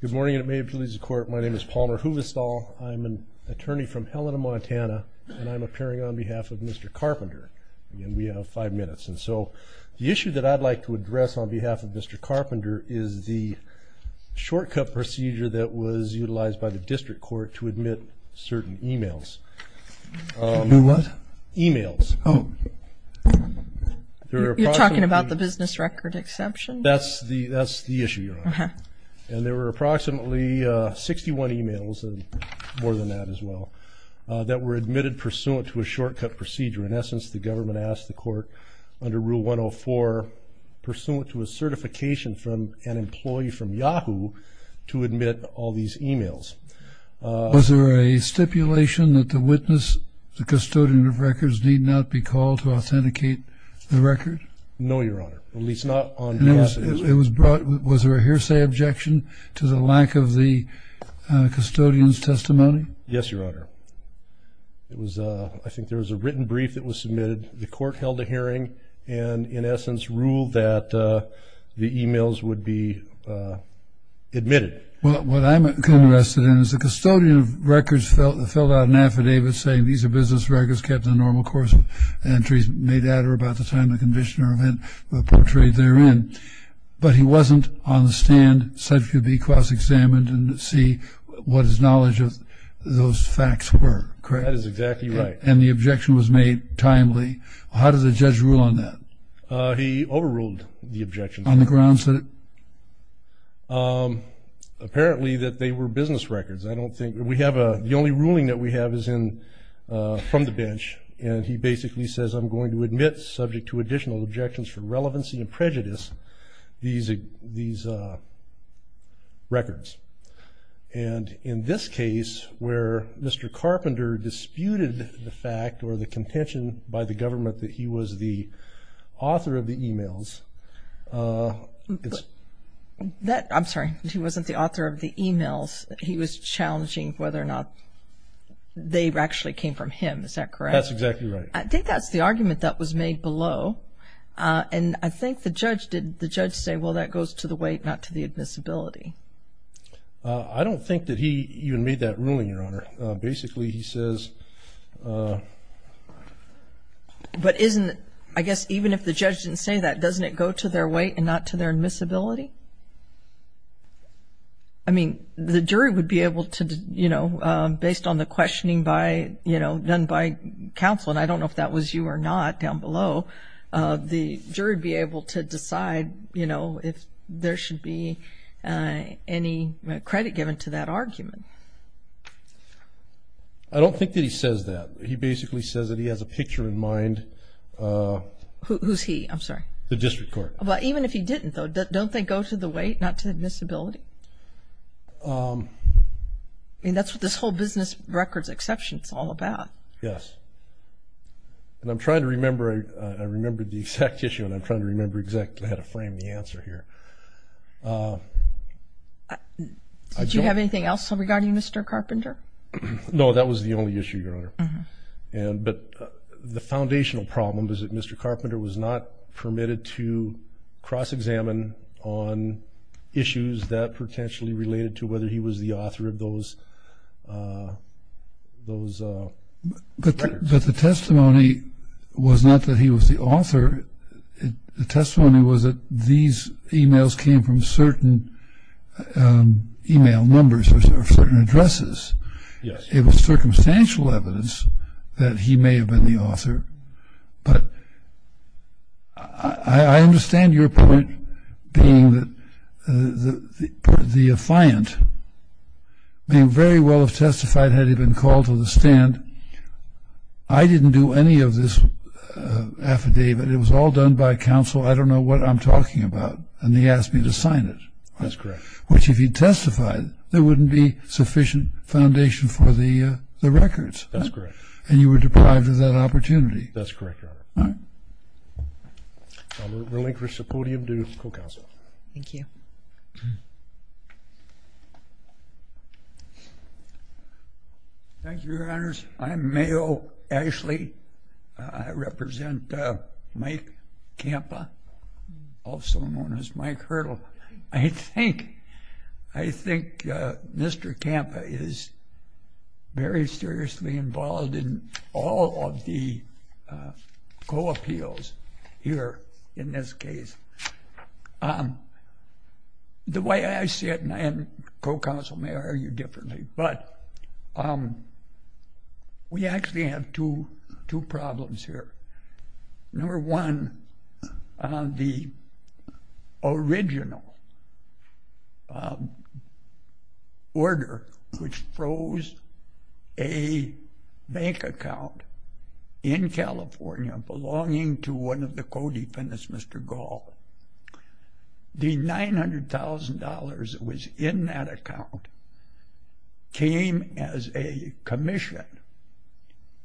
Good morning, and may it please the Court, my name is Palmer Huvestal. I'm an attorney from Helena, Montana, and I'm appearing on behalf of Mr. Carpenter. We have five minutes, and so the issue that I'd like to address on behalf of Mr. Carpenter is the shortcut procedure that was utilized by the District Court to admit certain emails. Admit what? Emails. Oh. You're talking about the business record exception? That's the issue, Your Honor. And there were approximately 61 emails, more than that as well, that were admitted pursuant to a shortcut procedure. In essence, the government asked the Court under Rule 104, pursuant to a certification from an employee from Yahoo, to admit all these emails. Was there a stipulation that the witness, the custodian of records, need not be called to authenticate the record? No, Your Honor, at least not on behalf of the District Court. Was there a hearsay objection to the lack of the custodian's testimony? Yes, Your Honor. I think there was a written brief that was submitted. The Court held a hearing and, in essence, ruled that the emails would be admitted. Well, what I'm interested in is the custodian of records filled out an affidavit saying, these are business records kept in the normal course of entries made at or about the time of the condition or event portrayed therein. But he wasn't on the stand, said he could be cross-examined and see what his knowledge of those facts were, correct? That is exactly right. And the objection was made timely. How did the judge rule on that? He overruled the objection. On the grounds that it? Apparently that they were business records. The only ruling that we have is from the bench, and he basically says, I'm going to admit subject to additional objections for relevancy and prejudice these records. And in this case, where Mr. Carpenter disputed the fact or the contention by the government that he was the author of the emails? I'm sorry, he wasn't the author of the emails. He was challenging whether or not they actually came from him, is that correct? That's exactly right. I think that's the argument that was made below. And I think the judge said, well, that goes to the weight, not to the admissibility. I don't think that he even made that ruling, Your Honor. Basically he says. But isn't it, I guess even if the judge didn't say that, doesn't it go to their weight and not to their admissibility? I mean, the jury would be able to, you know, based on the questioning done by counsel, and I don't know if that was you or not down below, the jury would be able to decide, you know, if there should be any credit given to that argument. I don't think that he says that. He basically says that he has a picture in mind. Who's he? I'm sorry. The district court. Even if he didn't, though, don't they go to the weight, not to the admissibility? I mean, that's what this whole business records exception is all about. Yes. And I'm trying to remember, I remembered the exact issue, and I'm trying to remember exactly how to frame the answer here. Did you have anything else regarding Mr. Carpenter? No, that was the only issue, Your Honor. But the foundational problem was that Mr. Carpenter was not permitted to cross-examine on issues that potentially related to whether he was the author of those records. But the testimony was not that he was the author. The testimony was that these emails came from certain email numbers or certain addresses. Yes. It was circumstantial evidence that he may have been the author. But I understand your point being that the affiant may very well have testified had he been called to the stand. I didn't do any of this affidavit. It was all done by counsel. I don't know what I'm talking about, and he asked me to sign it. That's correct. Which if he testified, there wouldn't be sufficient foundation for the records. That's correct. And you were deprived of that opportunity. That's correct, Your Honor. All right. I'll relinquish the podium to co-counsel. Thank you. Thank you, Your Honors. I'm Mayo Ashley. I represent Mike Campa, also known as Mike Hurdle. I think Mr. Campa is very seriously involved in all of the co-appeals here in this case. The way I see it, and co-counsel may argue differently, but we actually have two problems here. Number one, the original order which froze a bank account in California belonging to one of the co-defendants, Mr. Gall. The $900,000 that was in that account came as a commission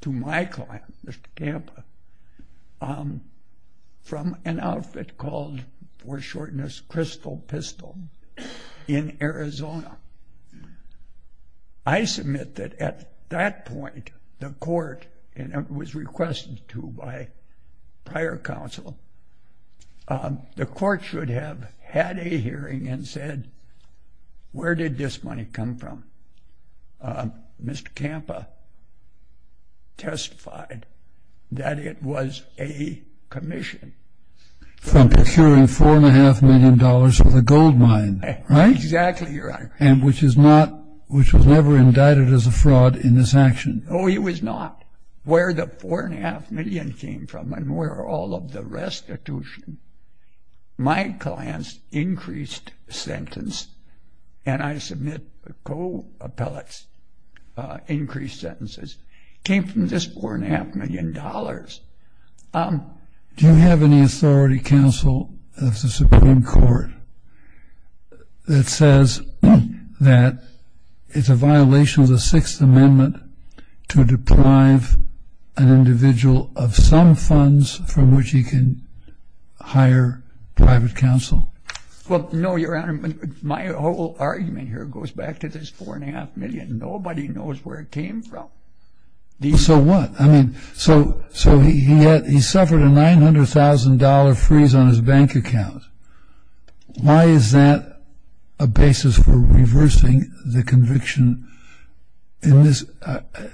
to my client, Mr. Campa, from an outfit called, for shortness, Crystal Pistol in Arizona. I submit that at that point the court, and it was requested to by prior counsel, the court should have had a hearing and said, where did this money come from? Mr. Campa testified that it was a commission. From procuring $4.5 million worth of gold mine, right? Exactly, Your Honor. And which is not, which was never indicted as a fraud in this action. Oh, it was not. Where the $4.5 million came from and where all of the restitution, my client's increased sentence, and I submit co-appellate's increased sentences, came from this $4.5 million. Do you have any authority, counsel, of the Supreme Court that says that it's a violation of the Sixth Amendment to deprive an individual of some funds from which he can hire private counsel? Well, no, Your Honor. My whole argument here goes back to this $4.5 million. Nobody knows where it came from. So what? I mean, so he suffered a $900,000 freeze on his bank account. Why is that a basis for reversing the conviction in this?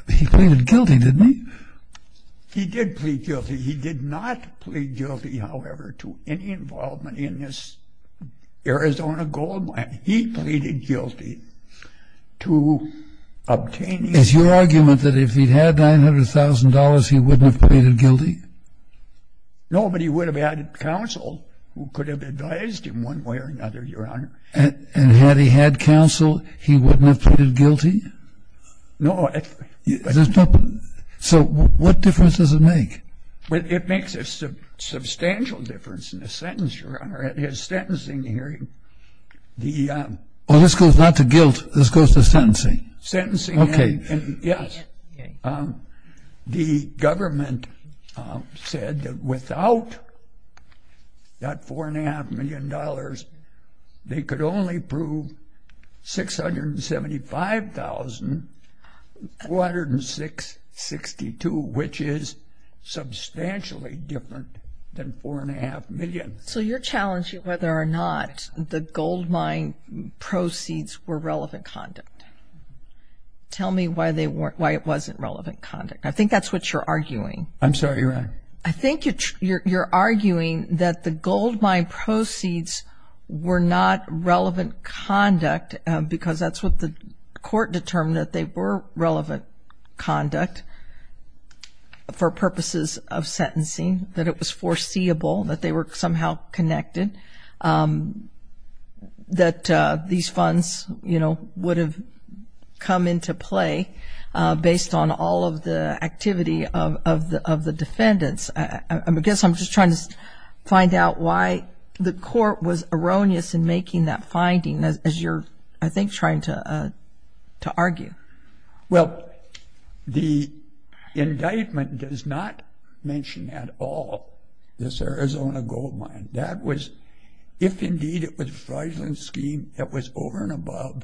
He pleaded guilty, didn't he? He did plead guilty. He did not plead guilty, however, to any involvement in this Arizona gold mine. He pleaded guilty to obtaining. Is your argument that if he'd had $900,000, he wouldn't have pleaded guilty? No, but he would have had counsel who could have advised him one way or another, Your Honor. And had he had counsel, he wouldn't have pleaded guilty? No. So what difference does it make? It makes a substantial difference in the sentence, Your Honor. His sentencing hearing, the... Well, this goes not to guilt. This goes to sentencing. Sentencing, yes. The government said that without that $4.5 million, they could only prove 675,462, which is substantially different than $4.5 million. So you're challenging whether or not the gold mine proceeds were relevant conduct. Tell me why it wasn't relevant conduct. I think that's what you're arguing. I'm sorry, Your Honor. I think you're arguing that the gold mine proceeds were not relevant conduct because that's what the court determined, that they were relevant conduct for purposes of sentencing, that it was foreseeable, that they were somehow connected, that these funds would have come into play based on all of the activity of the defendants. I guess I'm just trying to find out why the court was erroneous in making that finding, as you're, I think, trying to argue. Well, the indictment does not mention at all this Arizona gold mine. That was, if indeed it was a fraudulent scheme that was over and above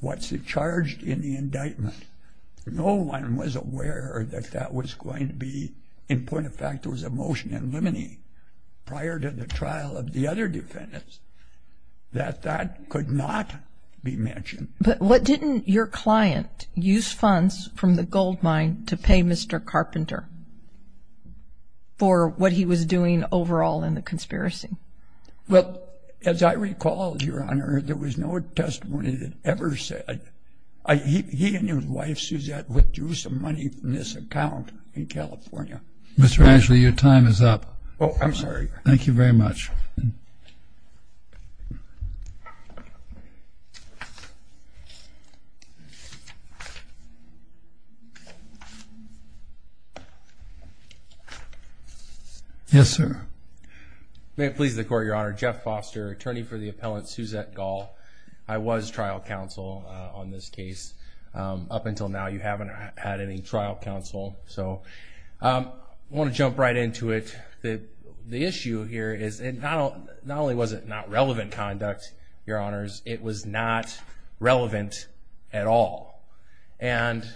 what's charged in the indictment, no one was aware that that was going to be, in point of fact, it was a motion in limine prior to the trial of the other defendants, that that could not be mentioned. But what didn't your client use funds from the gold mine to pay Mr. Carpenter for what he was doing overall in the conspiracy? Well, as I recall, Your Honor, there was no testimony that ever said, he and his wife Suzette withdrew some money from this account in California. Mr. Ashley, your time is up. Oh, I'm sorry. Thank you very much. Yes, sir. May it please the Court, Your Honor. Jeff Foster, attorney for the appellant Suzette Gall. I was trial counsel on this case. Up until now, you haven't had any trial counsel. So I want to jump right into it. The issue here is not only was it not relevant conduct, Your Honors, it was not relevant at all. And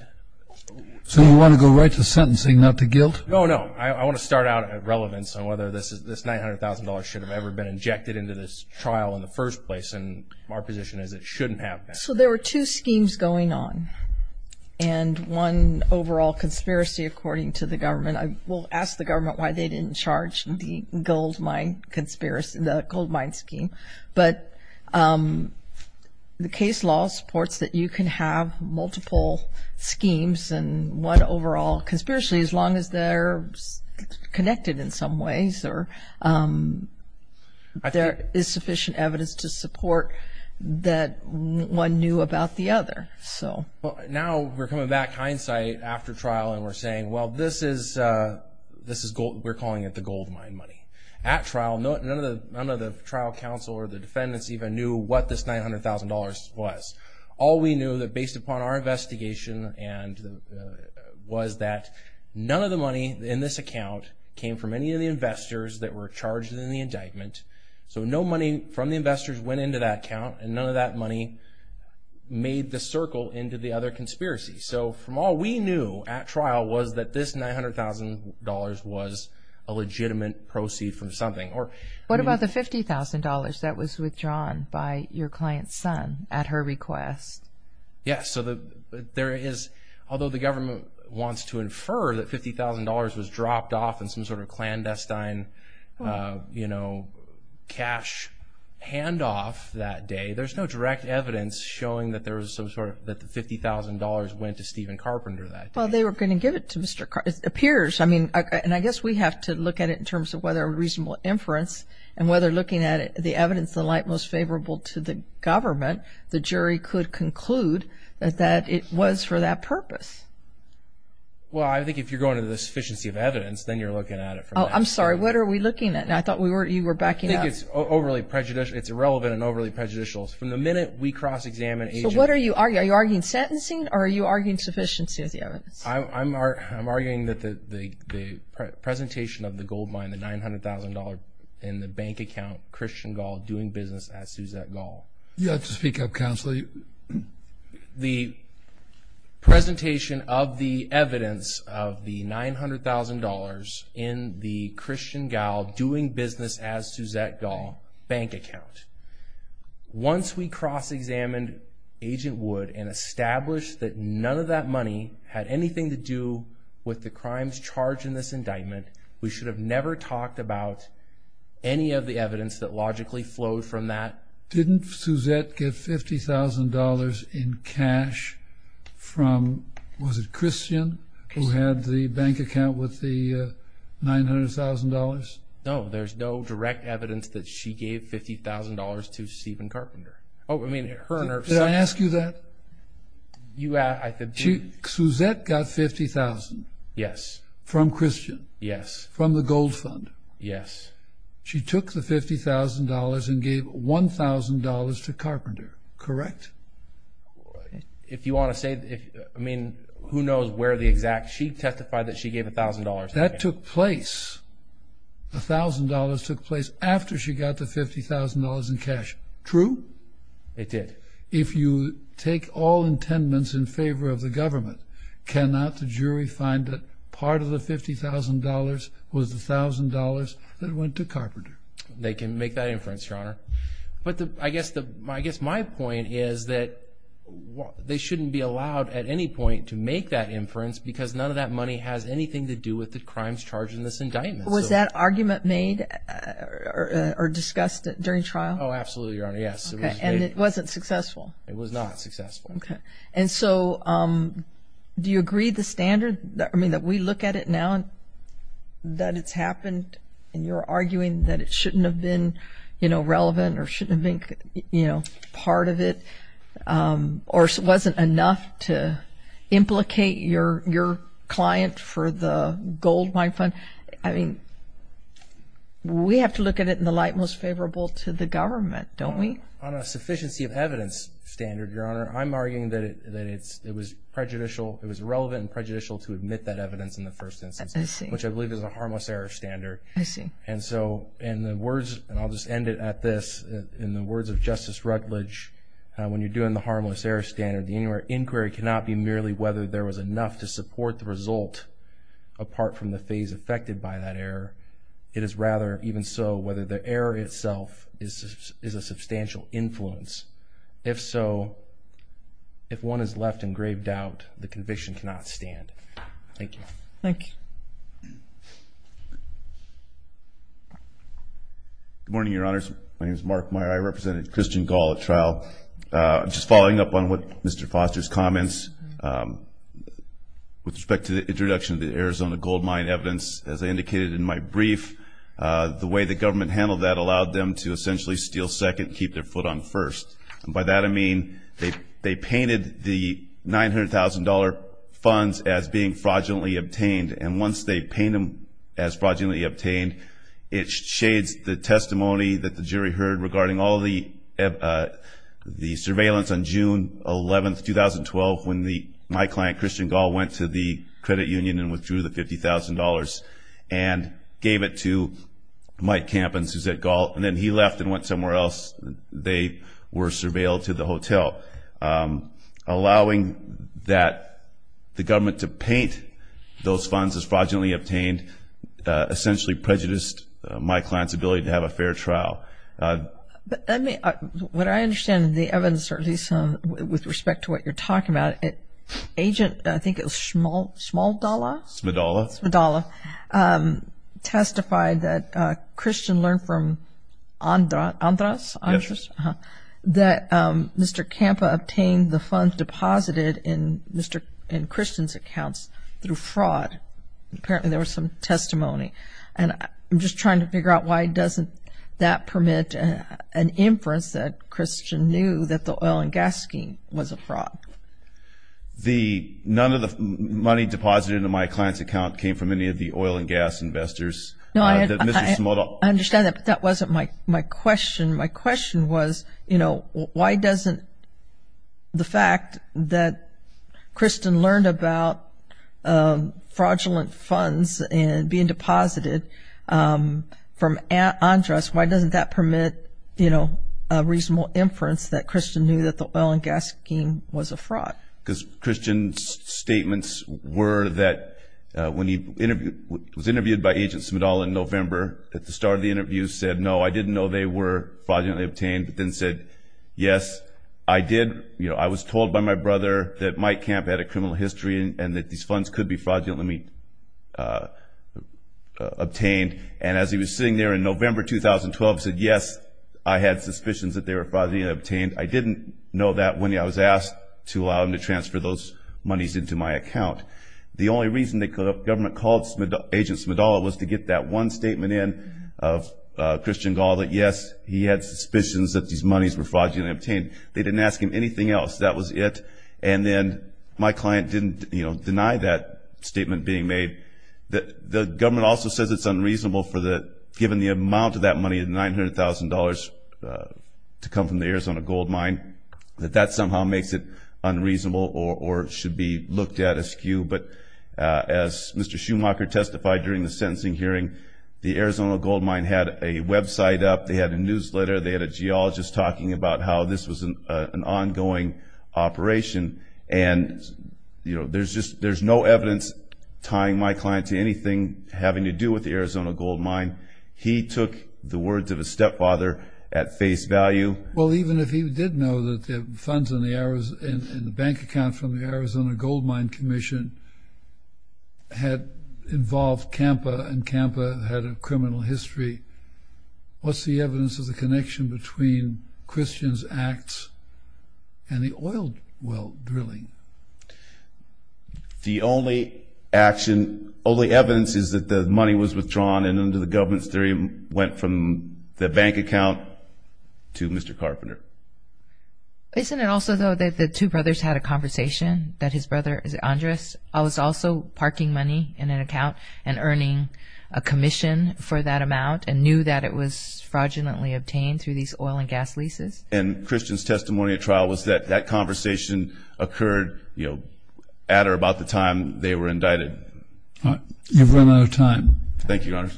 so we want to go right to sentencing, not to guilt? No, no. I want to start out at relevance on whether this $900,000 should have ever been injected into this trial in the first place. And our position is it shouldn't have been. So there were two schemes going on, and one overall conspiracy, according to the government. I will ask the government why they didn't charge the gold mine scheme. But the case law supports that you can have multiple schemes and one overall conspiracy as long as they're connected in some ways or there is sufficient evidence to support that one knew about the other. Now we're coming back hindsight after trial and we're saying, well, this is gold. We're calling it the gold mine money. At trial, none of the trial counsel or the defendants even knew what this $900,000 was. All we knew that based upon our investigation was that none of the money in this account came from any of the investors that were charged in the indictment. So no money from the investors went into that account, and none of that money made the circle into the other conspiracy. So from all we knew at trial was that this $900,000 was a legitimate proceed from something. What about the $50,000 that was withdrawn by your client's son at her request? Yes. So there is, although the government wants to infer that $50,000 was dropped off in some sort of clandestine cash handoff that day, there's no direct evidence showing that the $50,000 went to Stephen Carpenter that day. Well, they were going to give it to Mr. Carpenter. It appears. I mean, and I guess we have to look at it in terms of whether a reasonable inference and whether looking at the evidence, the light most favorable to the government, the jury could conclude that it was for that purpose. Well, I think if you're going to the sufficiency of evidence, then you're looking at it from that. Oh, I'm sorry. What are we looking at? I thought you were backing up. I think it's irrelevant and overly prejudicial. From the minute we cross-examine agents. So what are you arguing? Are you arguing sentencing or are you arguing sufficiency of the evidence? I'm arguing that the presentation of the gold mine, the $900,000 in the bank account, Christian Gall doing business as Suzette Gall. You'll have to speak up, Counsel. The presentation of the evidence of the $900,000 in the Christian Gall doing business as Suzette Gall bank account. Once we cross-examined Agent Wood and established that none of that money had anything to do with the crimes charged in this indictment, we should have never talked about any of the evidence that logically flowed from that. Didn't Suzette get $50,000 in cash from, was it Christian, who had the bank account with the $900,000? No, there's no direct evidence that she gave $50,000 to Stephen Carpenter. Oh, I mean her and her son. Did I ask you that? You asked. Suzette got $50,000. Yes. From Christian. Yes. From the gold fund. Yes. She took the $50,000 and gave $1,000 to Carpenter, correct? She testified that she gave $1,000. That took place. The $1,000 took place after she got the $50,000 in cash. True? It did. If you take all intendance in favor of the government, cannot the jury find that part of the $50,000 was the $1,000 that went to Carpenter? They can make that inference, Your Honor. But I guess my point is that they shouldn't be allowed at any point to make that inference because none of that money has anything to do with the crimes charged in this indictment. Was that argument made or discussed during trial? Oh, absolutely, Your Honor. Yes. And it wasn't successful? It was not successful. Okay. And so do you agree the standard, I mean, that we look at it now that it's happened and you're arguing that it shouldn't have been, you know, relevant or shouldn't have been, you know, part of it or wasn't enough to implicate your client for the gold mine fund? I mean, we have to look at it in the light most favorable to the government, don't we? On a sufficiency of evidence standard, Your Honor, I'm arguing that it was relevant and prejudicial to admit that evidence in the first instance, which I believe is a harmless error standard. I see. And so in the words, and I'll just end it at this, in the words of Justice Rutledge, when you're doing the harmless error standard, the inquiry cannot be merely whether there was enough to support the result apart from the phase affected by that error. It is rather even so whether the error itself is a substantial influence. If so, if one is left in grave doubt, the conviction cannot stand. Thank you. Thank you. Good morning, Your Honors. My name is Mark Meyer. I represented Christian Gall at trial. Just following up on what Mr. Foster's comments with respect to the introduction of the Arizona gold mine evidence, as I indicated in my brief, the way the government handled that allowed them to essentially steal second and keep their foot on first. And by that I mean they painted the $900,000 funds as being fraudulently obtained, and once they paint them as fraudulently obtained, it shades the testimony that the jury heard regarding all the surveillance on June 11, 2012, when my client, Christian Gall, went to the credit union and withdrew the $50,000 and gave it to Mike Camp and Suzette Gall. And then he left and went somewhere else. They were surveilled to the hotel. Allowing the government to paint those funds as fraudulently obtained essentially prejudiced my client's ability to have a fair trial. What I understand in the evidence, or at least with respect to what you're talking about, Agent, I think it was Smaldala? Smadala. Smadala testified that Christian learned from Andras that Mr. Camp obtained the funds deposited in Christian's accounts through fraud. Apparently there was some testimony. And I'm just trying to figure out why doesn't that permit an inference that Christian knew that the oil and gas scheme was a fraud. None of the money deposited in my client's account came from any of the oil and gas investors. No, I understand that, but that wasn't my question. My question was, you know, why doesn't the fact that Christian learned about fraudulent funds and being deposited from Andras, why doesn't that permit, you know, a reasonable inference that Christian knew that the oil and gas scheme was a fraud? Because Christian's statements were that when he was interviewed by Agent Smadala in November, at the start of the interview, said, no, I didn't know they were fraudulently obtained, but then said, yes, I did. You know, I was told by my brother that Mike Camp had a criminal history and that these funds could be fraudulently obtained. And as he was sitting there in November 2012, said, yes, I had suspicions that they were fraudulently obtained. I didn't know that when I was asked to allow him to transfer those monies into my account. The only reason the government called Agent Smadala was to get that one statement in of Christian Gall that, yes, he had suspicions that these monies were fraudulently obtained. They didn't ask him anything else. That was it. And then my client didn't, you know, deny that statement being made. The government also says it's unreasonable for the – given the amount of that money, $900,000 to come from the Arizona gold mine, that that somehow makes it unreasonable or should be looked at as skew. But as Mr. Schumacher testified during the sentencing hearing, the Arizona gold mine had a website up. They had a newsletter. They had a geologist talking about how this was an ongoing operation. And, you know, there's no evidence tying my client to anything having to do with the Arizona gold mine. He took the words of his stepfather at face value. Well, even if he did know that the funds in the bank account from the Arizona gold mine commission had involved CAMPA and CAMPA had a criminal history, what's the evidence of the connection between Christian's acts and the oil well drilling? The only action – only evidence is that the money was withdrawn and under the government's theory went from the bank account to Mr. Carpenter. Isn't it also, though, that the two brothers had a conversation, that his brother Andres was also parking money in an account and earning a commission for that amount and knew that it was fraudulently obtained through these oil and gas leases? And Christian's testimony at trial was that that conversation occurred, you know, at or about the time they were indicted. You've run out of time. Thank you, Your Honor.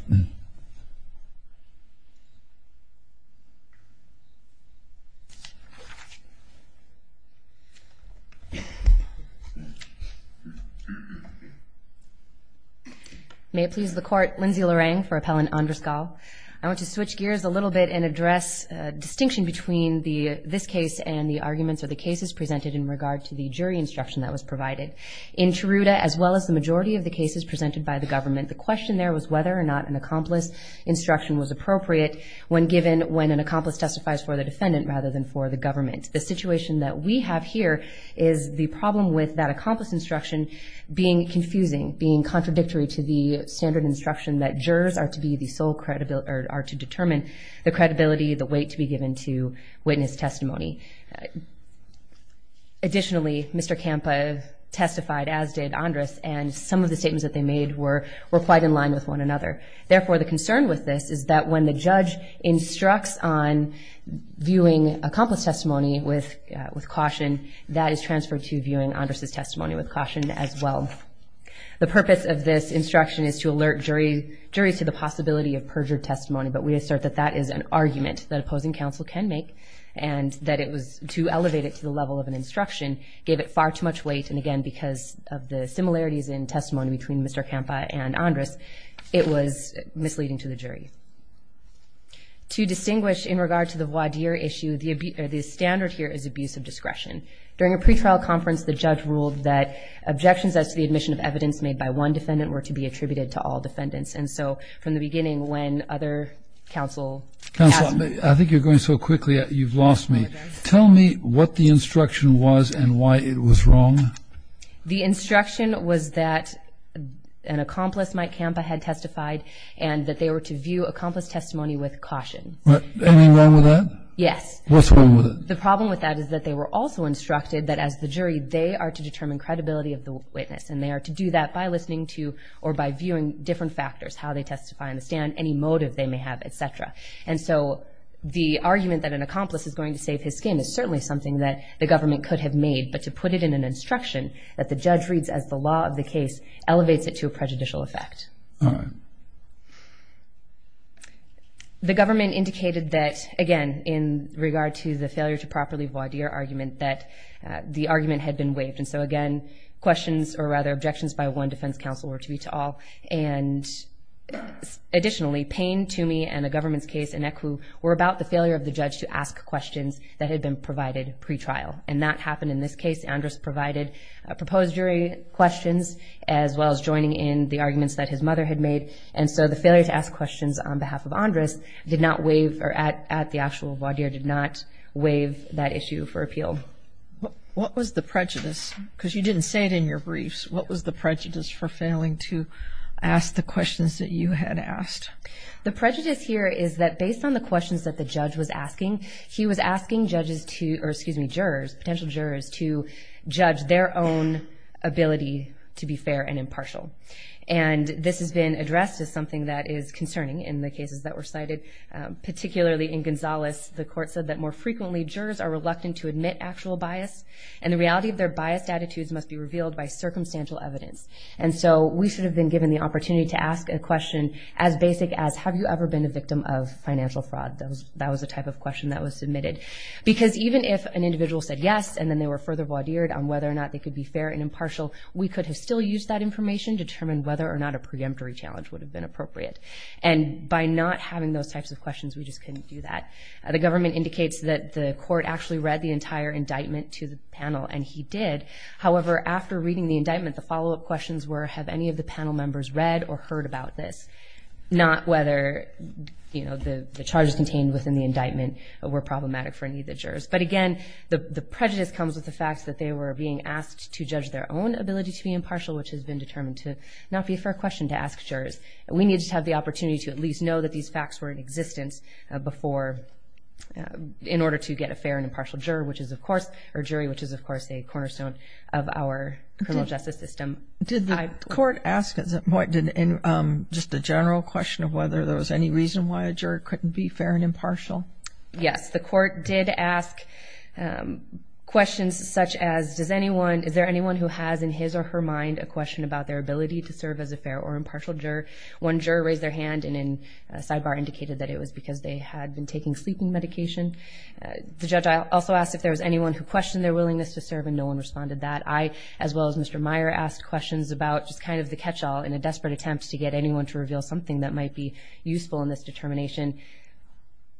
May it please the Court, Lindsay Larang for Appellant Andres Gall. I want to switch gears a little bit and address distinction between this case and the arguments or the cases presented in regard to the jury instruction that was provided. In Chiruta, as well as the majority of the cases presented by the government, the question there was whether or not an accomplice instruction was appropriate when given when an accomplice testifies for the defendant rather than for the government. The situation that we have here is the problem with that accomplice instruction being confusing, being contradictory to the standard instruction that jurors are to determine the credibility, the weight to be given to witness testimony. Additionally, Mr. Campa testified, as did Andres, and some of the statements that they made were quite in line with one another. Therefore, the concern with this is that when the judge instructs on viewing accomplice testimony with caution, that is transferred to viewing Andres' testimony with caution as well. The purpose of this instruction is to alert juries to the possibility of perjured testimony, but we assert that that is an argument that opposing counsel can make and that it was to elevate it to the level of an instruction gave it far too much weight, and again, because of the similarities in testimony between Mr. Campa and Andres, it was misleading to the jury. To distinguish in regard to the voir dire issue, the standard here is abuse of discretion. During a pretrial conference, the judge ruled that objections as to the admission of evidence made by one defendant were to be attributed to all defendants, and so from the beginning, when other counsel asked me to. I think you're going so quickly, you've lost me. Tell me what the instruction was and why it was wrong. The instruction was that an accomplice, Mike Campa, had testified and that they were to view accomplice testimony with caution. Anything wrong with that? Yes. What's wrong with it? The problem with that is that they were also instructed that as the jury, they are to determine credibility of the witness, and they are to do that by listening to or by viewing different factors, how they testify on the stand, any motive they may have, et cetera, and so the argument that an accomplice is going to save his skin is certainly something that the government could have made, but to put it in an instruction that the judge reads as the law of the case elevates it to a prejudicial effect. All right. The government indicated that, again, in regard to the failure to properly voir dire argument that the argument had been waived, and so again, questions or rather objections by one defense counsel were to be to all, and additionally, Payne, Toomey, and the government's case in ECWU were about the failure of the judge to ask questions that had been provided pretrial, and that happened in this case. Andrus provided proposed jury questions as well as joining in the arguments that his mother had made, and so the failure to ask questions on behalf of Andrus did not waive or at the actual voir dire did not waive that issue for appeal. What was the prejudice? Because you didn't say it in your briefs. What was the prejudice for failing to ask the questions that you had asked? The prejudice here is that based on the questions that the judge was asking, he was asking potential jurors to judge their own ability to be fair and impartial, and this has been addressed as something that is concerning in the cases that were cited, particularly in Gonzales. The court said that more frequently jurors are reluctant to admit actual bias, and the reality of their biased attitudes must be revealed by circumstantial evidence. And so we should have been given the opportunity to ask a question as basic as, have you ever been a victim of financial fraud? That was the type of question that was submitted. Because even if an individual said yes, and then they were further voir dired on whether or not they could be fair and impartial, we could have still used that information, determined whether or not a preemptory challenge would have been appropriate. And by not having those types of questions, we just couldn't do that. The government indicates that the court actually read the entire indictment to the panel, and he did. However, after reading the indictment, the follow-up questions were, have any of the panel members read or heard about this? Not whether the charges contained within the indictment were problematic for any of the jurors. But again, the prejudice comes with the fact that they were being asked to judge their own ability to be impartial, which has been determined to not be a fair question to ask jurors. We need to have the opportunity to at least know that these facts were in existence before, in order to get a fair and impartial jury, which is, of course, a cornerstone of our criminal justice system. Did the court ask, just a general question of whether there was any reason why a jury couldn't be fair and impartial? Yes, the court did ask questions such as, is there anyone who has in his or her mind a question about their ability to serve as a fair or impartial juror? One juror raised their hand and in a sidebar indicated that it was because they had been taking sleeping medication. The judge also asked if there was anyone who questioned their willingness to serve, and no one responded to that. I, as well as Mr. Meyer, asked questions about just kind of the catch-all in a desperate attempt to get anyone to reveal something that might be useful in this determination.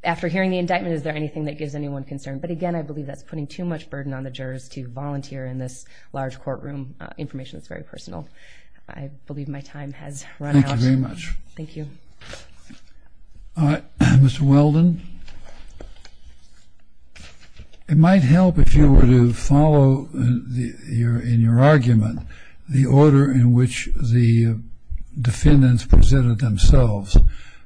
After hearing the indictment, is there anything that gives anyone concern? But again, I believe that's putting too much burden on the jurors to volunteer in this large courtroom information that's very personal. I believe my time has run out. Thank you very much. Thank you. All right. Mr. Weldon? It might help if you were to follow in your argument the order in which the defendants presented themselves,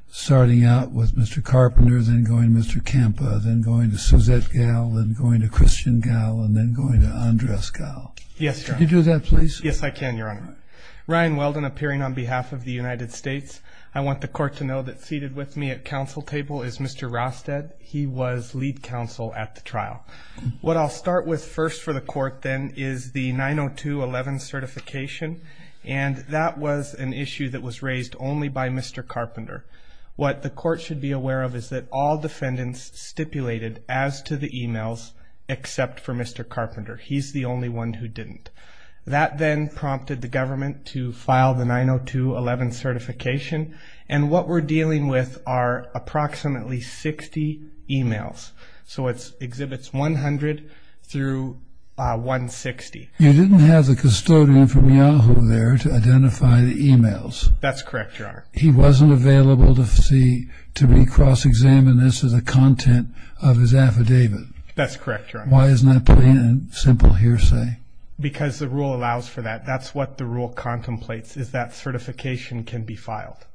starting out with Mr. Carpenter, then going to Mr. Campa, then going to Suzette Gall, then going to Christian Gall, and then going to Andres Gall. Yes, Your Honor. Could you do that, please? Yes, I can, Your Honor. All right. Ryan Weldon, appearing on behalf of the United States. I want the court to know that seated with me at counsel table is Mr. Rosted. He was lead counsel at the trial. What I'll start with first for the court, then, is the 902-11 certification, and that was an issue that was raised only by Mr. Carpenter. What the court should be aware of is that all defendants stipulated as to the e-mails except for Mr. Carpenter. He's the only one who didn't. That then prompted the government to file the 902-11 certification, and what we're dealing with are approximately 60 e-mails. So it exhibits 100 through 160. You didn't have the custodian from Yahoo there to identify the e-mails. That's correct, Your Honor. He wasn't available to see, to recross-examine this as a content of his affidavit. That's correct, Your Honor. Why isn't that plain and simple hearsay? Because the rule allows for that. That's what the rule contemplates, is that certification can be filed.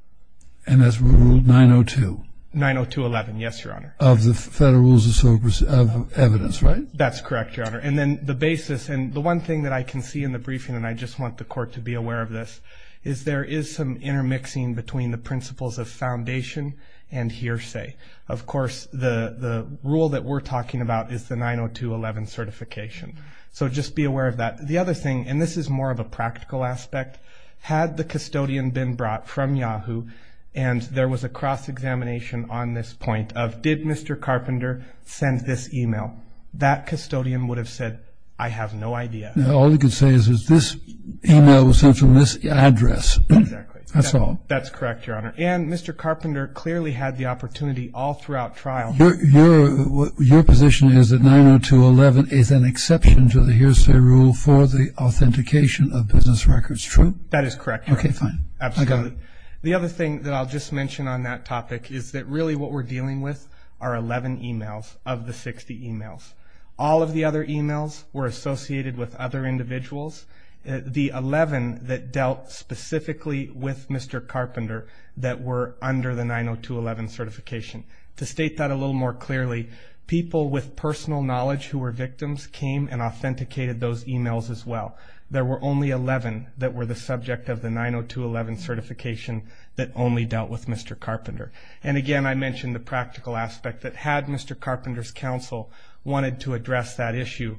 And that's rule 902? 902-11, yes, Your Honor. Of the Federal Rules of Evidence, right? That's correct, Your Honor. And then the basis, and the one thing that I can see in the briefing, and I just want the Court to be aware of this, is there is some intermixing between the principles of foundation and hearsay. Of course, the rule that we're talking about is the 902-11 certification. So just be aware of that. The other thing, and this is more of a practical aspect, had the custodian been brought from Yahoo and there was a cross-examination on this point of did Mr. Carpenter send this e-mail, that custodian would have said, I have no idea. All you can say is this e-mail was sent from this address. Exactly. That's all. That's correct, Your Honor. And Mr. Carpenter clearly had the opportunity all throughout trial. Your position is that 902-11 is an exception to the hearsay rule for the authentication of business records, true? That is correct, Your Honor. Okay, fine. Absolutely. The other thing that I'll just mention on that topic is that really what we're dealing with are 11 e-mails of the 60 e-mails. All of the other e-mails were associated with other individuals. The 11 that dealt specifically with Mr. Carpenter that were under the 902-11 certification. To state that a little more clearly, people with personal knowledge who were victims came and authenticated those e-mails as well. There were only 11 that were the subject of the 902-11 certification that only dealt with Mr. Carpenter. And, again, I mentioned the practical aspect that had Mr. Carpenter's counsel wanted to address that issue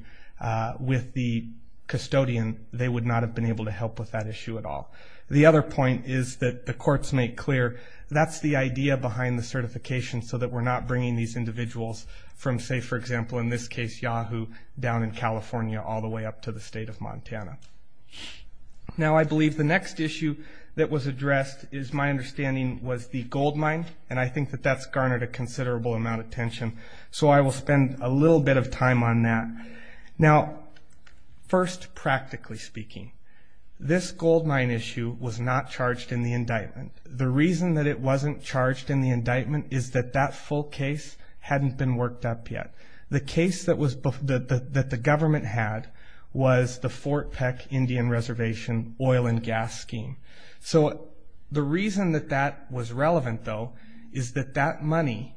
with the custodian, they would not have been able to help with that issue at all. The other point is that the courts make clear that's the idea behind the certification so that we're not bringing these individuals from, say, for example, in this case, Yahoo, down in California all the way up to the state of Montana. Now, I believe the next issue that was addressed is my understanding was the gold mine, and I think that that's garnered a considerable amount of attention, so I will spend a little bit of time on that. Now, first, practically speaking, this gold mine issue was not charged in the indictment. The reason that it wasn't charged in the indictment is that that full case hadn't been worked up yet. The case that the government had was the Fort Peck Indian Reservation oil and gas scheme. So the reason that that was relevant, though, is that that money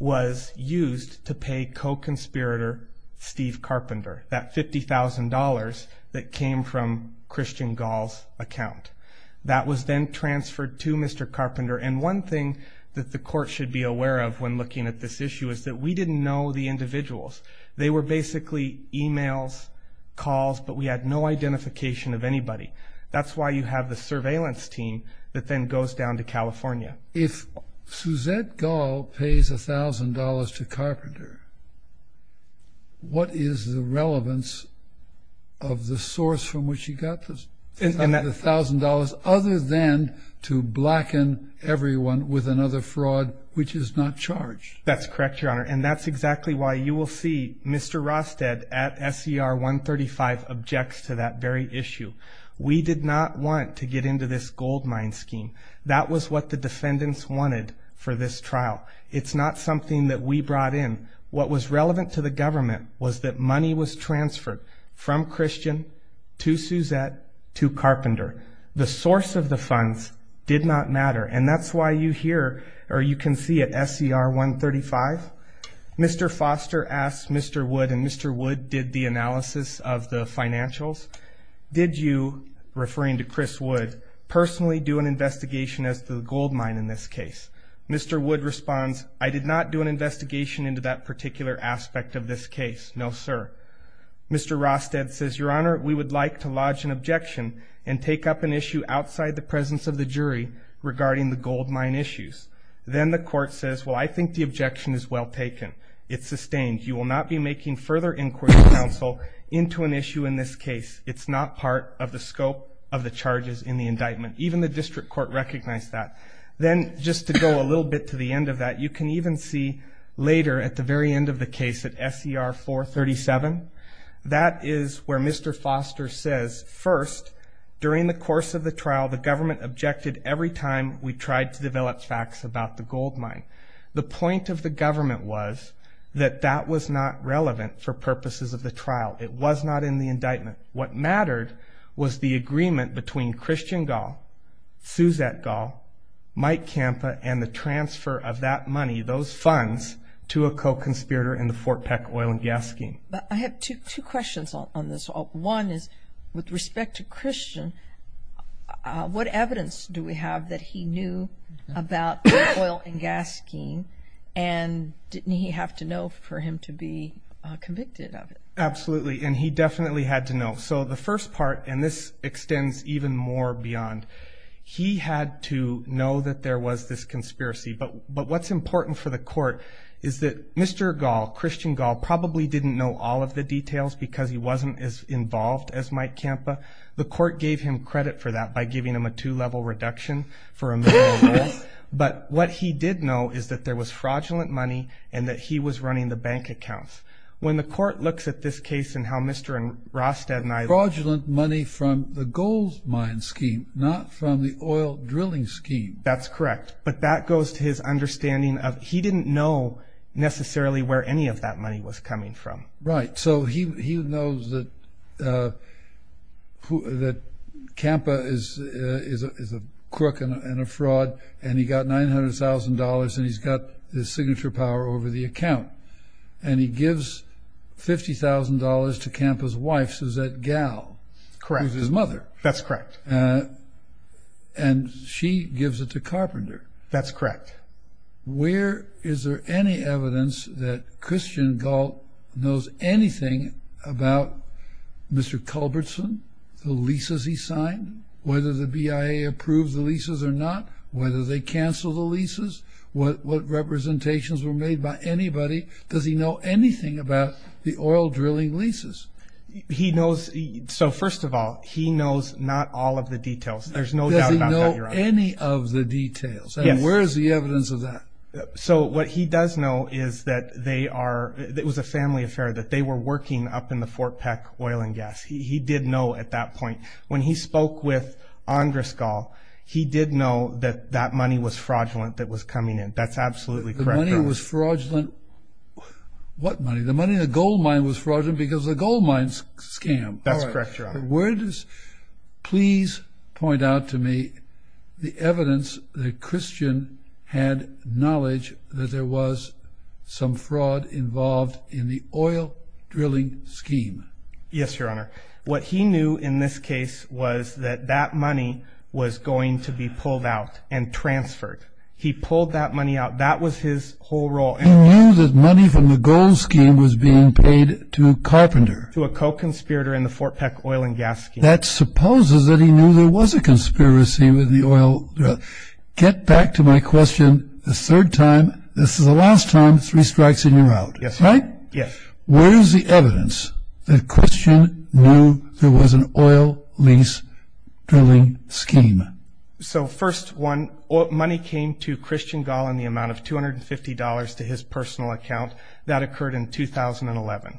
was used to pay co-conspirator Steve Carpenter, that $50,000 that came from Christian Gall's account. That was then transferred to Mr. Carpenter, and one thing that the court should be aware of when looking at this issue is that we didn't know the individuals. They were basically e-mails, calls, but we had no identification of anybody. That's why you have the surveillance team that then goes down to California. If Suzette Gall pays $1,000 to Carpenter, what is the relevance of the source from which he got the $1,000 other than to blacken everyone with another fraud which is not charged? That's correct, Your Honor, and that's exactly why you will see Mr. Rosted at SER 135 objects to that very issue. We did not want to get into this gold mine scheme. That was what the defendants wanted for this trial. It's not something that we brought in. What was relevant to the government was that money was transferred from Christian to Suzette to Carpenter. The source of the funds did not matter, and that's why you hear or you can see at SER 135, Mr. Foster asked Mr. Wood, and Mr. Wood did the analysis of the financials. Did you, referring to Chris Wood, personally do an investigation as to the gold mine in this case? Mr. Wood responds, I did not do an investigation into that particular aspect of this case, no, sir. Mr. Rosted says, Your Honor, we would like to lodge an objection and take up an issue outside the presence of the jury regarding the gold mine issues. Then the court says, well, I think the objection is well taken. It's sustained. You will not be making further inquiry of counsel into an issue in this case. It's not part of the scope of the charges in the indictment. Even the district court recognized that. Then just to go a little bit to the end of that, you can even see later at the very end of the case at SER 437, that is where Mr. Foster says, First, during the course of the trial, the government objected every time we tried to develop facts about the gold mine. The point of the government was that that was not relevant for purposes of the trial. It was not in the indictment. What mattered was the agreement between Christian Gall, Suzette Gall, Mike Campa, and the transfer of that money, those funds, to a co-conspirator in the Fort Peck oil and gas scheme. I have two questions on this. One is with respect to Christian, what evidence do we have that he knew about the oil and gas scheme and didn't he have to know for him to be convicted of it? Absolutely, and he definitely had to know. So the first part, and this extends even more beyond, he had to know that there was this conspiracy. But what's important for the court is that Mr. Gall, Christian Gall, probably didn't know all of the details because he wasn't as involved as Mike Campa. The court gave him credit for that by giving him a two-level reduction for a million dollars. But what he did know is that there was fraudulent money and that he was running the bank accounts. When the court looks at this case and how Mr. Rostad and I- Fraudulent money from the gold mine scheme, not from the oil drilling scheme. That's correct. But that goes to his understanding of he didn't know necessarily where any of that money was coming from. Right, so he knows that Campa is a crook and a fraud and he got $900,000 and he's got his signature power over the account. And he gives $50,000 to Campa's wife, Suzette Gall. Correct. Who's his mother. That's correct. And she gives it to Carpenter. That's correct. Where is there any evidence that Christian Gall knows anything about Mr. Culbertson, the leases he signed, whether the BIA approved the leases or not, whether they canceled the leases, what representations were made by anybody. Does he know anything about the oil drilling leases? He knows-so first of all, he knows not all of the details. There's no doubt about that, Your Honor. Does he know any of the details? Yes. And where is the evidence of that? So what he does know is that they are-it was a family affair, that they were working up in the Fort Peck oil and gas. He did know at that point. When he spoke with Andris Gall, he did know that that money was fraudulent that was coming in. That's absolutely correct, Your Honor. The money was fraudulent. What money? The money in the gold mine was fraudulent because the gold mine's a scam. That's correct, Your Honor. Where does-please point out to me the evidence that Christian had knowledge that there was some fraud involved in the oil drilling scheme. Yes, Your Honor. What he knew in this case was that that money was going to be pulled out and transferred. He pulled that money out. That was his whole role. He knew that money from the gold scheme was being paid to a carpenter. To a co-conspirator in the Fort Peck oil and gas scheme. That supposes that he knew there was a conspiracy with the oil. Get back to my question a third time. This is the last time three strikes and you're out. Yes, Your Honor. Right? Yes. Where is the evidence that Christian knew there was an oil lease drilling scheme? So, first one, money came to Christian Gall in the amount of $250 to his personal account. That occurred in 2011.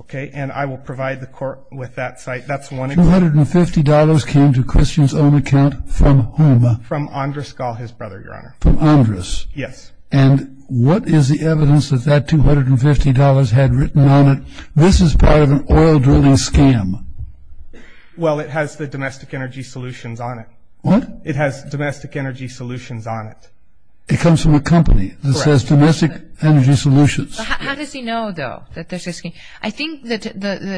Okay? And I will provide the court with that site. That's one example. $250 came to Christian's own account from whom? From Andrus Gall, his brother, Your Honor. From Andrus? Yes. And what is the evidence that that $250 had written on it? This is part of an oil drilling scam. Well, it has the domestic energy solutions on it. What? It has domestic energy solutions on it. It comes from a company that says domestic energy solutions. How does he know, though, that there's a scheme? I think the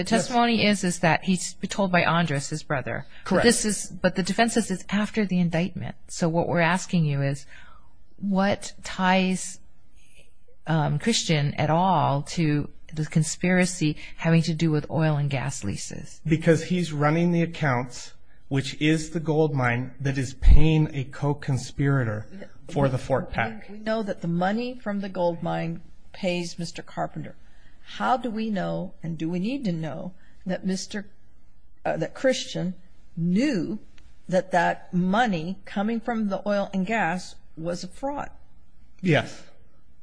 testimony is that he's told by Andrus, his brother. Correct. But the defense says it's after the indictment. So what we're asking you is what ties Christian at all to the conspiracy having to do with oil and gas leases? Because he's running the accounts, which is the gold mine, that is paying a co-conspirator for the fork pack. We know that the money from the gold mine pays Mr. Carpenter. How do we know and do we need to know that Christian knew that that money coming from the oil and gas was a fraud? Yes.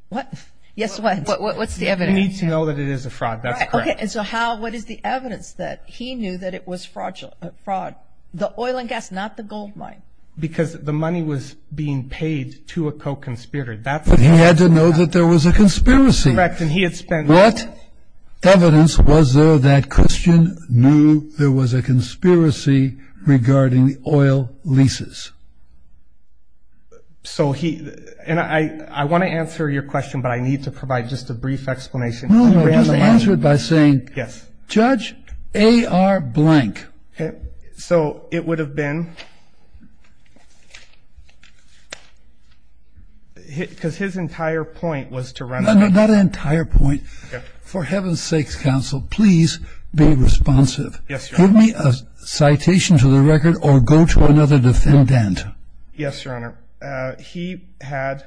What? Yes, what? What's the evidence? We need to know that it is a fraud. That's correct. Okay. And so what is the evidence that he knew that it was fraud? The oil and gas, not the gold mine. Because the money was being paid to a co-conspirator. But he had to know that there was a conspiracy. Correct, and he had spent. What evidence was there that Christian knew there was a conspiracy regarding the oil leases? So he, and I want to answer your question, but I need to provide just a brief explanation. No, no, just answer it by saying. Yes. Judge A.R. blank. Okay. So it would have been, because his entire point was to run. Not an entire point. Okay. For heaven's sakes, counsel, please be responsive. Yes, Your Honor. Give me a citation to the record or go to another defendant. Yes, Your Honor. He had,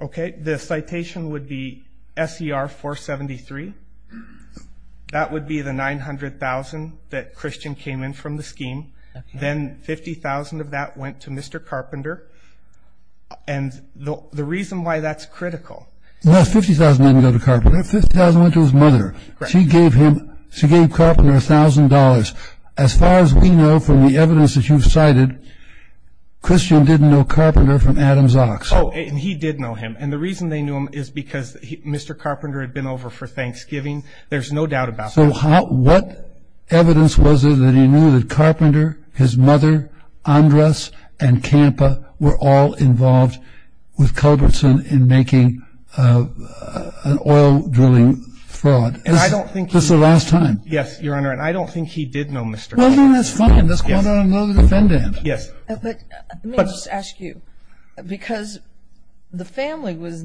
okay, the citation would be S.E.R. 473. That would be the 900,000 that Christian came in from the scheme. Then 50,000 of that went to Mr. Carpenter. And the reason why that's critical. No, 50,000 didn't go to Carpenter. 50,000 went to his mother. She gave him, she gave Carpenter $1,000. As far as we know from the evidence that you've cited, Christian didn't know Carpenter from Adam's ox. Oh, and he did know him. And the reason they knew him is because Mr. Carpenter had been over for Thanksgiving. There's no doubt about that. So what evidence was there that he knew that Carpenter, his mother, Andres, and Campa were all involved with Culbertson in making an oil drilling fraud? And I don't think he. This is the last time. Yes, Your Honor. And I don't think he did know Mr. Carpenter. Well, then that's fine. Let's call down another defendant. Yes. Let me just ask you. Because the family was,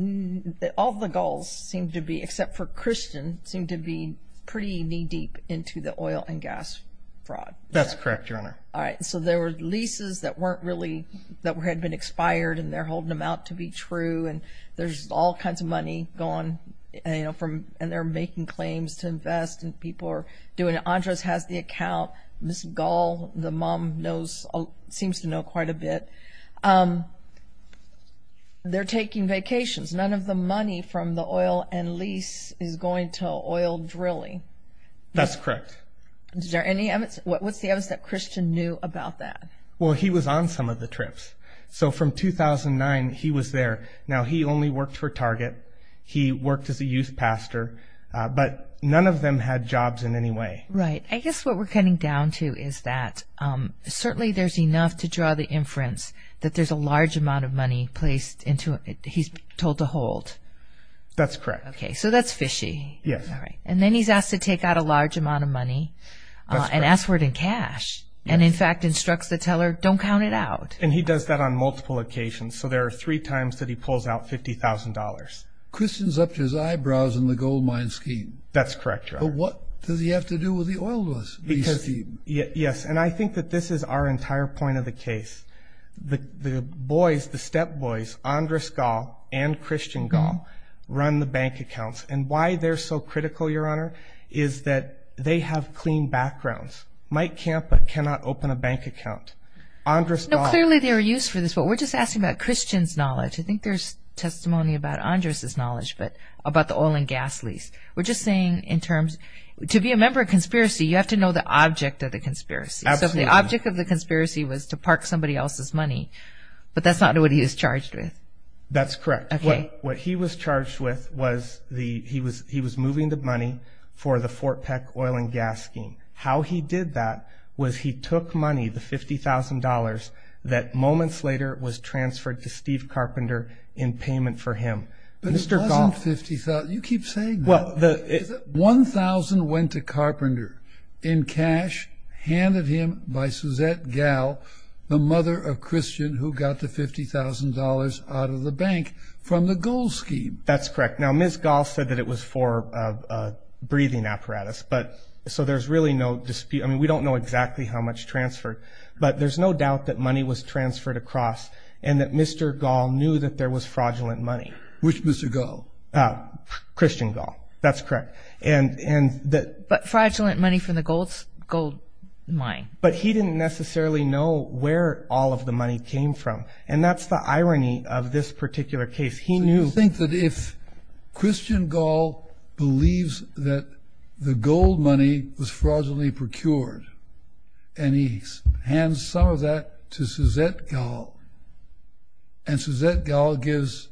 all the Gulls seemed to be, except for Christian, seemed to be pretty knee-deep into the oil and gas fraud. That's correct, Your Honor. All right. So there were leases that weren't really, that had been expired, and they're holding them out to be true, and there's all kinds of money going, and they're making claims to invest, and people are doing it. Andres has the account. Ms. Gull, the mom, seems to know quite a bit. They're taking vacations. None of the money from the oil and lease is going to oil drilling. That's correct. Is there any evidence? What's the evidence that Christian knew about that? Well, he was on some of the trips. So from 2009, he was there. Now, he only worked for Target. He worked as a youth pastor. But none of them had jobs in any way. Right. I guess what we're cutting down to is that certainly there's enough to draw the inference that there's a large amount of money placed into it he's told to hold. That's correct. Okay. So that's fishy. Yes. All right. And then he's asked to take out a large amount of money and ask for it in cash and, in fact, instructs the teller, don't count it out. And he does that on multiple occasions. So there are three times that he pulls out $50,000. Christian's up to his eyebrows in the goldmine scheme. That's correct, Your Honor. So what does he have to do with the oil lease scheme? Yes. And I think that this is our entire point of the case. The boys, the step-boys, Andrus Gahl and Christian Gahl, run the bank accounts. And why they're so critical, Your Honor, is that they have clean backgrounds. Mike Campa cannot open a bank account. No, clearly they were used for this. But we're just asking about Christian's knowledge. I think there's testimony about Andrus' knowledge about the oil and gas lease. We're just saying in terms, to be a member of conspiracy, you have to know the object of the conspiracy. Absolutely. So if the object of the conspiracy was to park somebody else's money, but that's not what he was charged with. That's correct. What he was charged with was he was moving the money for the Fort Peck oil and gas scheme. How he did that was he took money, the $50,000, that moments later was transferred to Steve Carpenter in payment for him. But it wasn't $50,000. You keep saying that. $1,000 went to Carpenter in cash handed him by Suzette Gahl, the mother of Christian who got the $50,000 out of the bank from the gold scheme. That's correct. Now, Ms. Gahl said that it was for a breathing apparatus. So there's really no dispute. I mean, we don't know exactly how much transferred. But there's no doubt that money was transferred across and that Mr. Gahl knew that there was fraudulent money. Which Mr. Gahl? Christian Gahl. That's correct. But fraudulent money from the gold mine. But he didn't necessarily know where all of the money came from, and that's the irony of this particular case. He knew. So you think that if Christian Gahl believes that the gold money was fraudulently procured and he hands some of that to Suzette Gahl and Suzette Gahl gives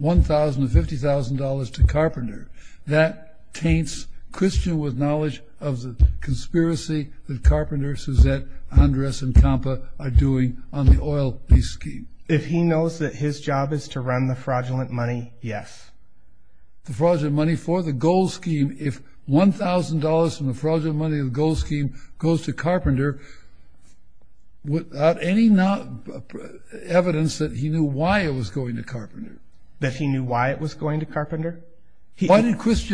$1,000 to $50,000 to Carpenter, that taints Christian with knowledge of the conspiracy that Carpenter, Suzette, Andres, and Campa are doing on the oil lease scheme. If he knows that his job is to run the fraudulent money, yes. The fraudulent money for the gold scheme, if $1,000 from the fraudulent money of the gold scheme goes to Carpenter, without any evidence that he knew why it was going to Carpenter? That he knew why it was going to Carpenter? What's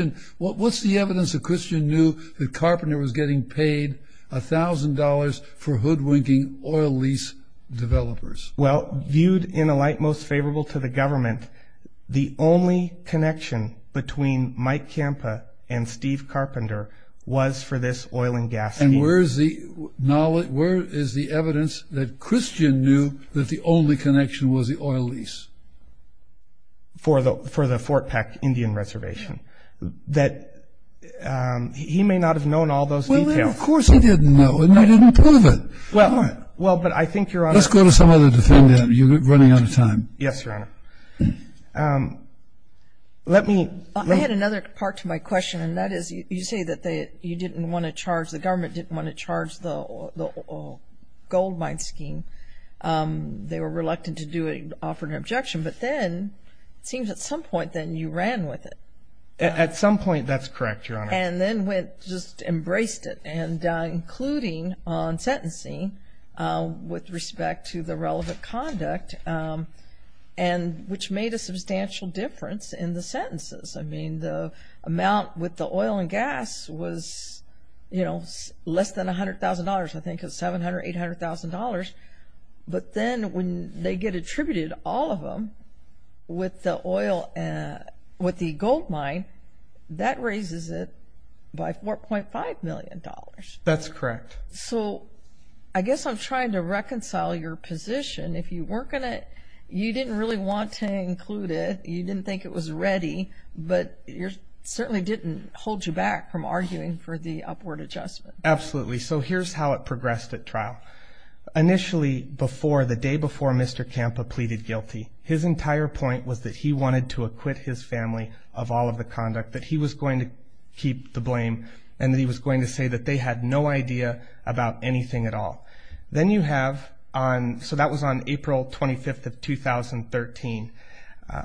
the evidence that Christian knew that Carpenter was getting paid $1,000 for hoodwinking oil lease developers? Well, viewed in a light most favorable to the government, the only connection between Mike Campa and Steve Carpenter was for this oil and gas scheme. And where is the knowledge, where is the evidence that Christian knew that the only connection was the oil lease? For the Fort Peck Indian Reservation. That he may not have known all those details. Well, then, of course he didn't know and you didn't prove it. Well, but I think Your Honor. Let's go to some other defendant. You're running out of time. Yes, Your Honor. Let me. I had another part to my question and that is you say that you didn't want to charge, the government didn't want to charge the gold mine scheme. They were reluctant to do it and offered an objection. But then it seems at some point then you ran with it. At some point, that's correct, Your Honor. And then just embraced it and including on sentencing with respect to the relevant conduct and which made a substantial difference in the sentences. I mean, the amount with the oil and gas was, you know, less than $100,000. I think it was $700,000, $800,000. But then when they get attributed all of them with the oil and with the gold mine, that raises it by $4.5 million. That's correct. So, I guess I'm trying to reconcile your position. If you weren't going to, you didn't really want to include it. You didn't think it was ready, but it certainly didn't hold you back from arguing for the upward adjustment. Absolutely. So, here's how it progressed at trial. Initially, the day before Mr. Campa pleaded guilty, his entire point was that he wanted to acquit his family of all of the conduct, that he was going to keep the blame, and that he was going to say that they had no idea about anything at all. Then you have on, so that was on April 25th of 2013.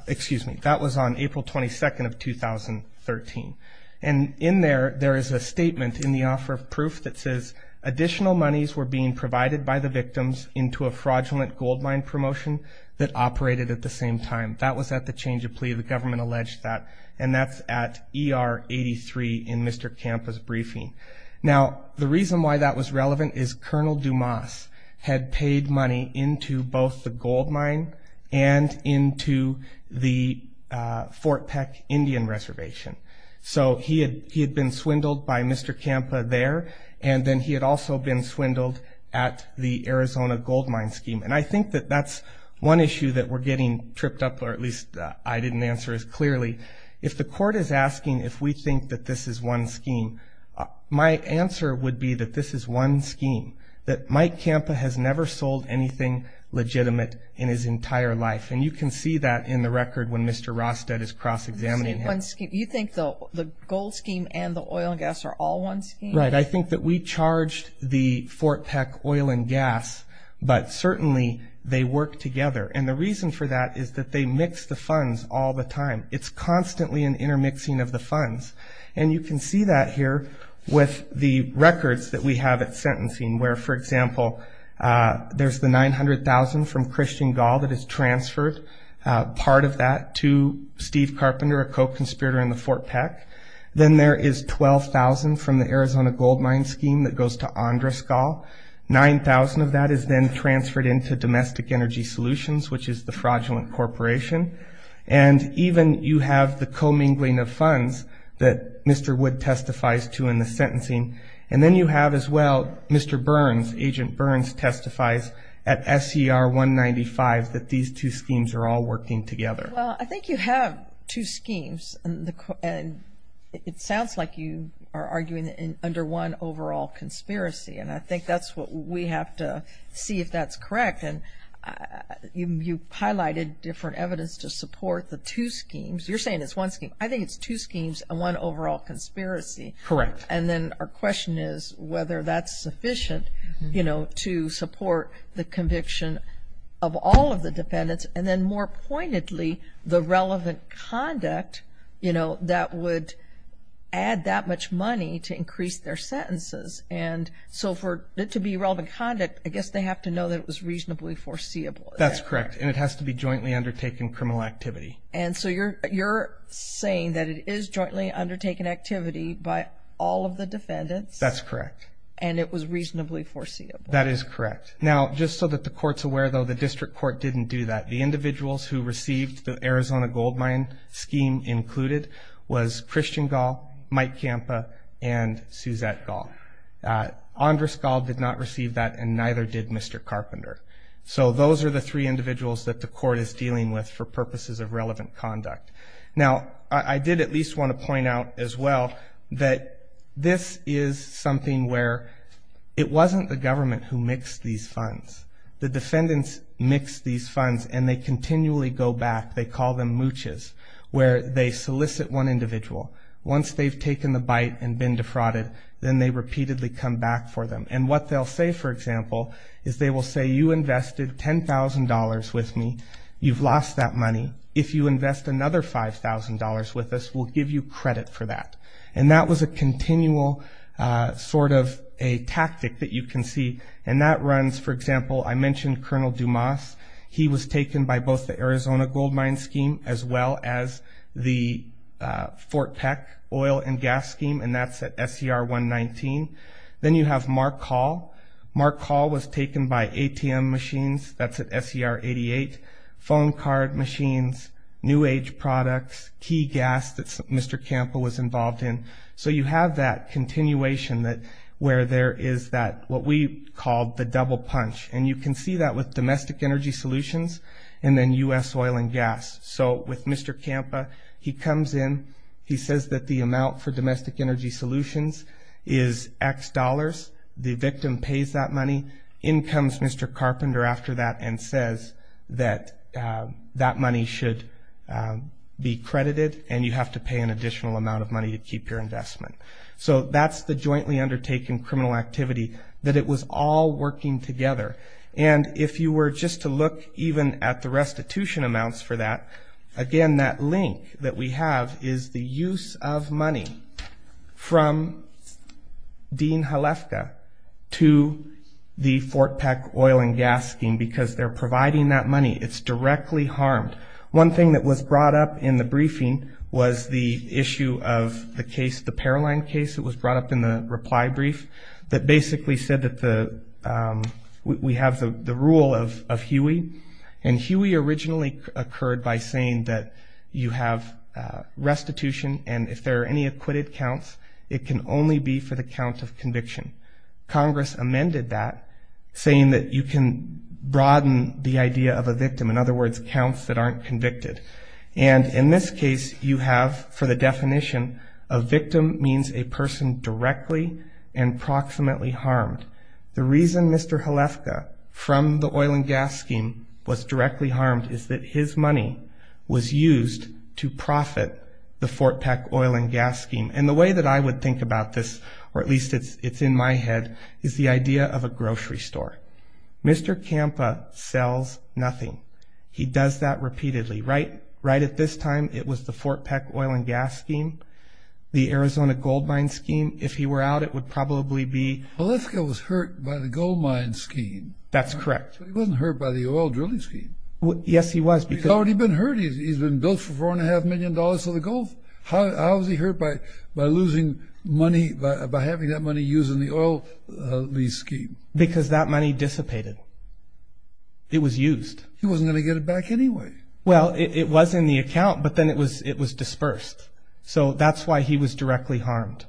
Excuse me, that was on April 22nd of 2013. And in there, there is a statement in the offer of proof that says, additional monies were being provided by the victims into a fraudulent gold mine promotion that operated at the same time. That was at the change of plea. The government alleged that, and that's at ER 83 in Mr. Campa's briefing. Now, the reason why that was relevant is Colonel Dumas had paid money into both the gold mine and into the Fort Peck Indian Reservation. So, he had been swindled by Mr. Campa there, and then he had also been swindled at the Arizona gold mine scheme. And I think that that's one issue that we're getting tripped up, or at least I didn't answer as clearly. If the court is asking if we think that this is one scheme, my answer would be that this is one scheme, that Mike Campa has never sold anything legitimate in his entire life. And you can see that in the record when Mr. Rostad is cross-examining him. You think the gold scheme and the oil and gas are all one scheme? Right. I think that we charged the Fort Peck oil and gas, but certainly they work together. And the reason for that is that they mix the funds all the time. It's constantly an intermixing of the funds. And you can see that here with the records that we have at sentencing, where, for example, there's the $900,000 from Christian Gall that is transferred, part of that to Steve Carpenter, a co-conspirator in the Fort Peck. Then there is $12,000 from the Arizona gold mine scheme that goes to Andres Gall. $9,000 of that is then transferred into Domestic Energy Solutions, which is the fraudulent corporation. And even you have the commingling of funds that Mr. Wood testifies to in the sentencing. And then you have, as well, Mr. Burns, Agent Burns, testifies at SER 195 that these two schemes are all working together. Well, I think you have two schemes. And it sounds like you are arguing under one overall conspiracy, and I think that's what we have to see if that's correct. And you highlighted different evidence to support the two schemes. You're saying it's one scheme. I think it's two schemes and one overall conspiracy. Correct. And then our question is whether that's sufficient, you know, to support the conviction of all of the defendants, and then more pointedly the relevant conduct, you know, that would add that much money to increase their sentences. And so for it to be relevant conduct, I guess they have to know that it was reasonably foreseeable. That's correct. And it has to be jointly undertaken criminal activity. And so you're saying that it is jointly undertaken activity by all of the defendants. That's correct. And it was reasonably foreseeable. That is correct. Now, just so that the Court's aware, though, the District Court didn't do that. The individuals who received the Arizona goldmine scheme included was Christian Gall, Mike Campa, and Suzette Gall. Andres Gall did not receive that, and neither did Mr. Carpenter. So those are the three individuals that the Court is dealing with for purposes of relevant conduct. Now, I did at least want to point out as well that this is something where it wasn't the government who mixed these funds. The defendants mixed these funds, and they continually go back. They call them mooches, where they solicit one individual. Once they've taken the bite and been defrauded, then they repeatedly come back for them. And what they'll say, for example, is they will say, you invested $10,000 with me. You've lost that money. If you invest another $5,000 with us, we'll give you credit for that. And that was a continual sort of a tactic that you can see. And that runs, for example, I mentioned Colonel Dumas. He was taken by both the Arizona goldmine scheme as well as the Fort Peck oil and gas scheme, and that's at SER 119. Then you have Mark Hall. Mark Hall was taken by ATM machines. That's at SER 88. Phone card machines, New Age products, key gas that Mr. Campa was involved in. So you have that continuation where there is what we call the double punch. And you can see that with domestic energy solutions and then U.S. oil and gas. So with Mr. Campa, he comes in. He says that the amount for domestic energy solutions is X dollars. The victim pays that money. In comes Mr. Carpenter after that and says that that money should be credited, and you have to pay an additional amount of money to keep your investment. So that's the jointly undertaken criminal activity that it was all working together. And if you were just to look even at the restitution amounts for that, again, that link that we have is the use of money from Dean Halefka to the Fort Peck oil and gas scheme because they're providing that money. It's directly harmed. One thing that was brought up in the briefing was the issue of the case, the Paroline case. It was brought up in the reply brief that basically said that we have the rule of Huey. And Huey originally occurred by saying that you have restitution, and if there are any acquitted counts, it can only be for the count of conviction. Congress amended that, saying that you can broaden the idea of a victim. In other words, counts that aren't convicted. And in this case, you have, for the definition, a victim means a person directly and proximately harmed. The reason Mr. Halefka, from the oil and gas scheme, was directly harmed is that his money was used to profit the Fort Peck oil and gas scheme. And the way that I would think about this, or at least it's in my head, is the idea of a grocery store. Mr. Kampa sells nothing. He does that repeatedly. Right at this time, it was the Fort Peck oil and gas scheme, the Arizona goldmine scheme. If he were out, it would probably be... Halefka was hurt by the goldmine scheme. That's correct. But he wasn't hurt by the oil drilling scheme. Yes, he was. He's already been hurt. He's been billed for $4.5 million for the Gulf. How was he hurt by losing money, by having that money used in the oil lease scheme? Because that money dissipated. It was used. He wasn't going to get it back anyway. Well, it was in the account, but then it was dispersed. So that's why he was directly harmed.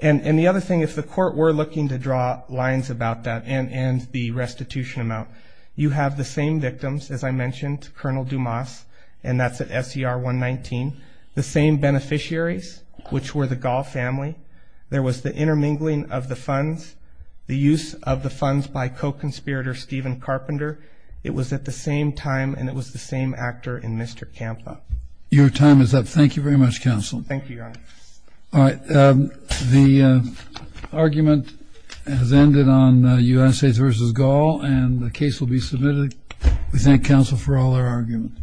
And the other thing, if the court were looking to draw lines about that and the restitution amount, you have the same victims, as I mentioned, Colonel Dumas, and that's at SER 119, the same beneficiaries, which were the Gulf family. There was the intermingling of the funds, the use of the funds by co-conspirator Stephen Carpenter. It was at the same time, and it was the same actor in Mr. Campa. Your time is up. Thank you very much, counsel. Thank you, Your Honor. All right. The argument has ended on United States v. Gall, and the case will be submitted. We thank counsel for all their arguments.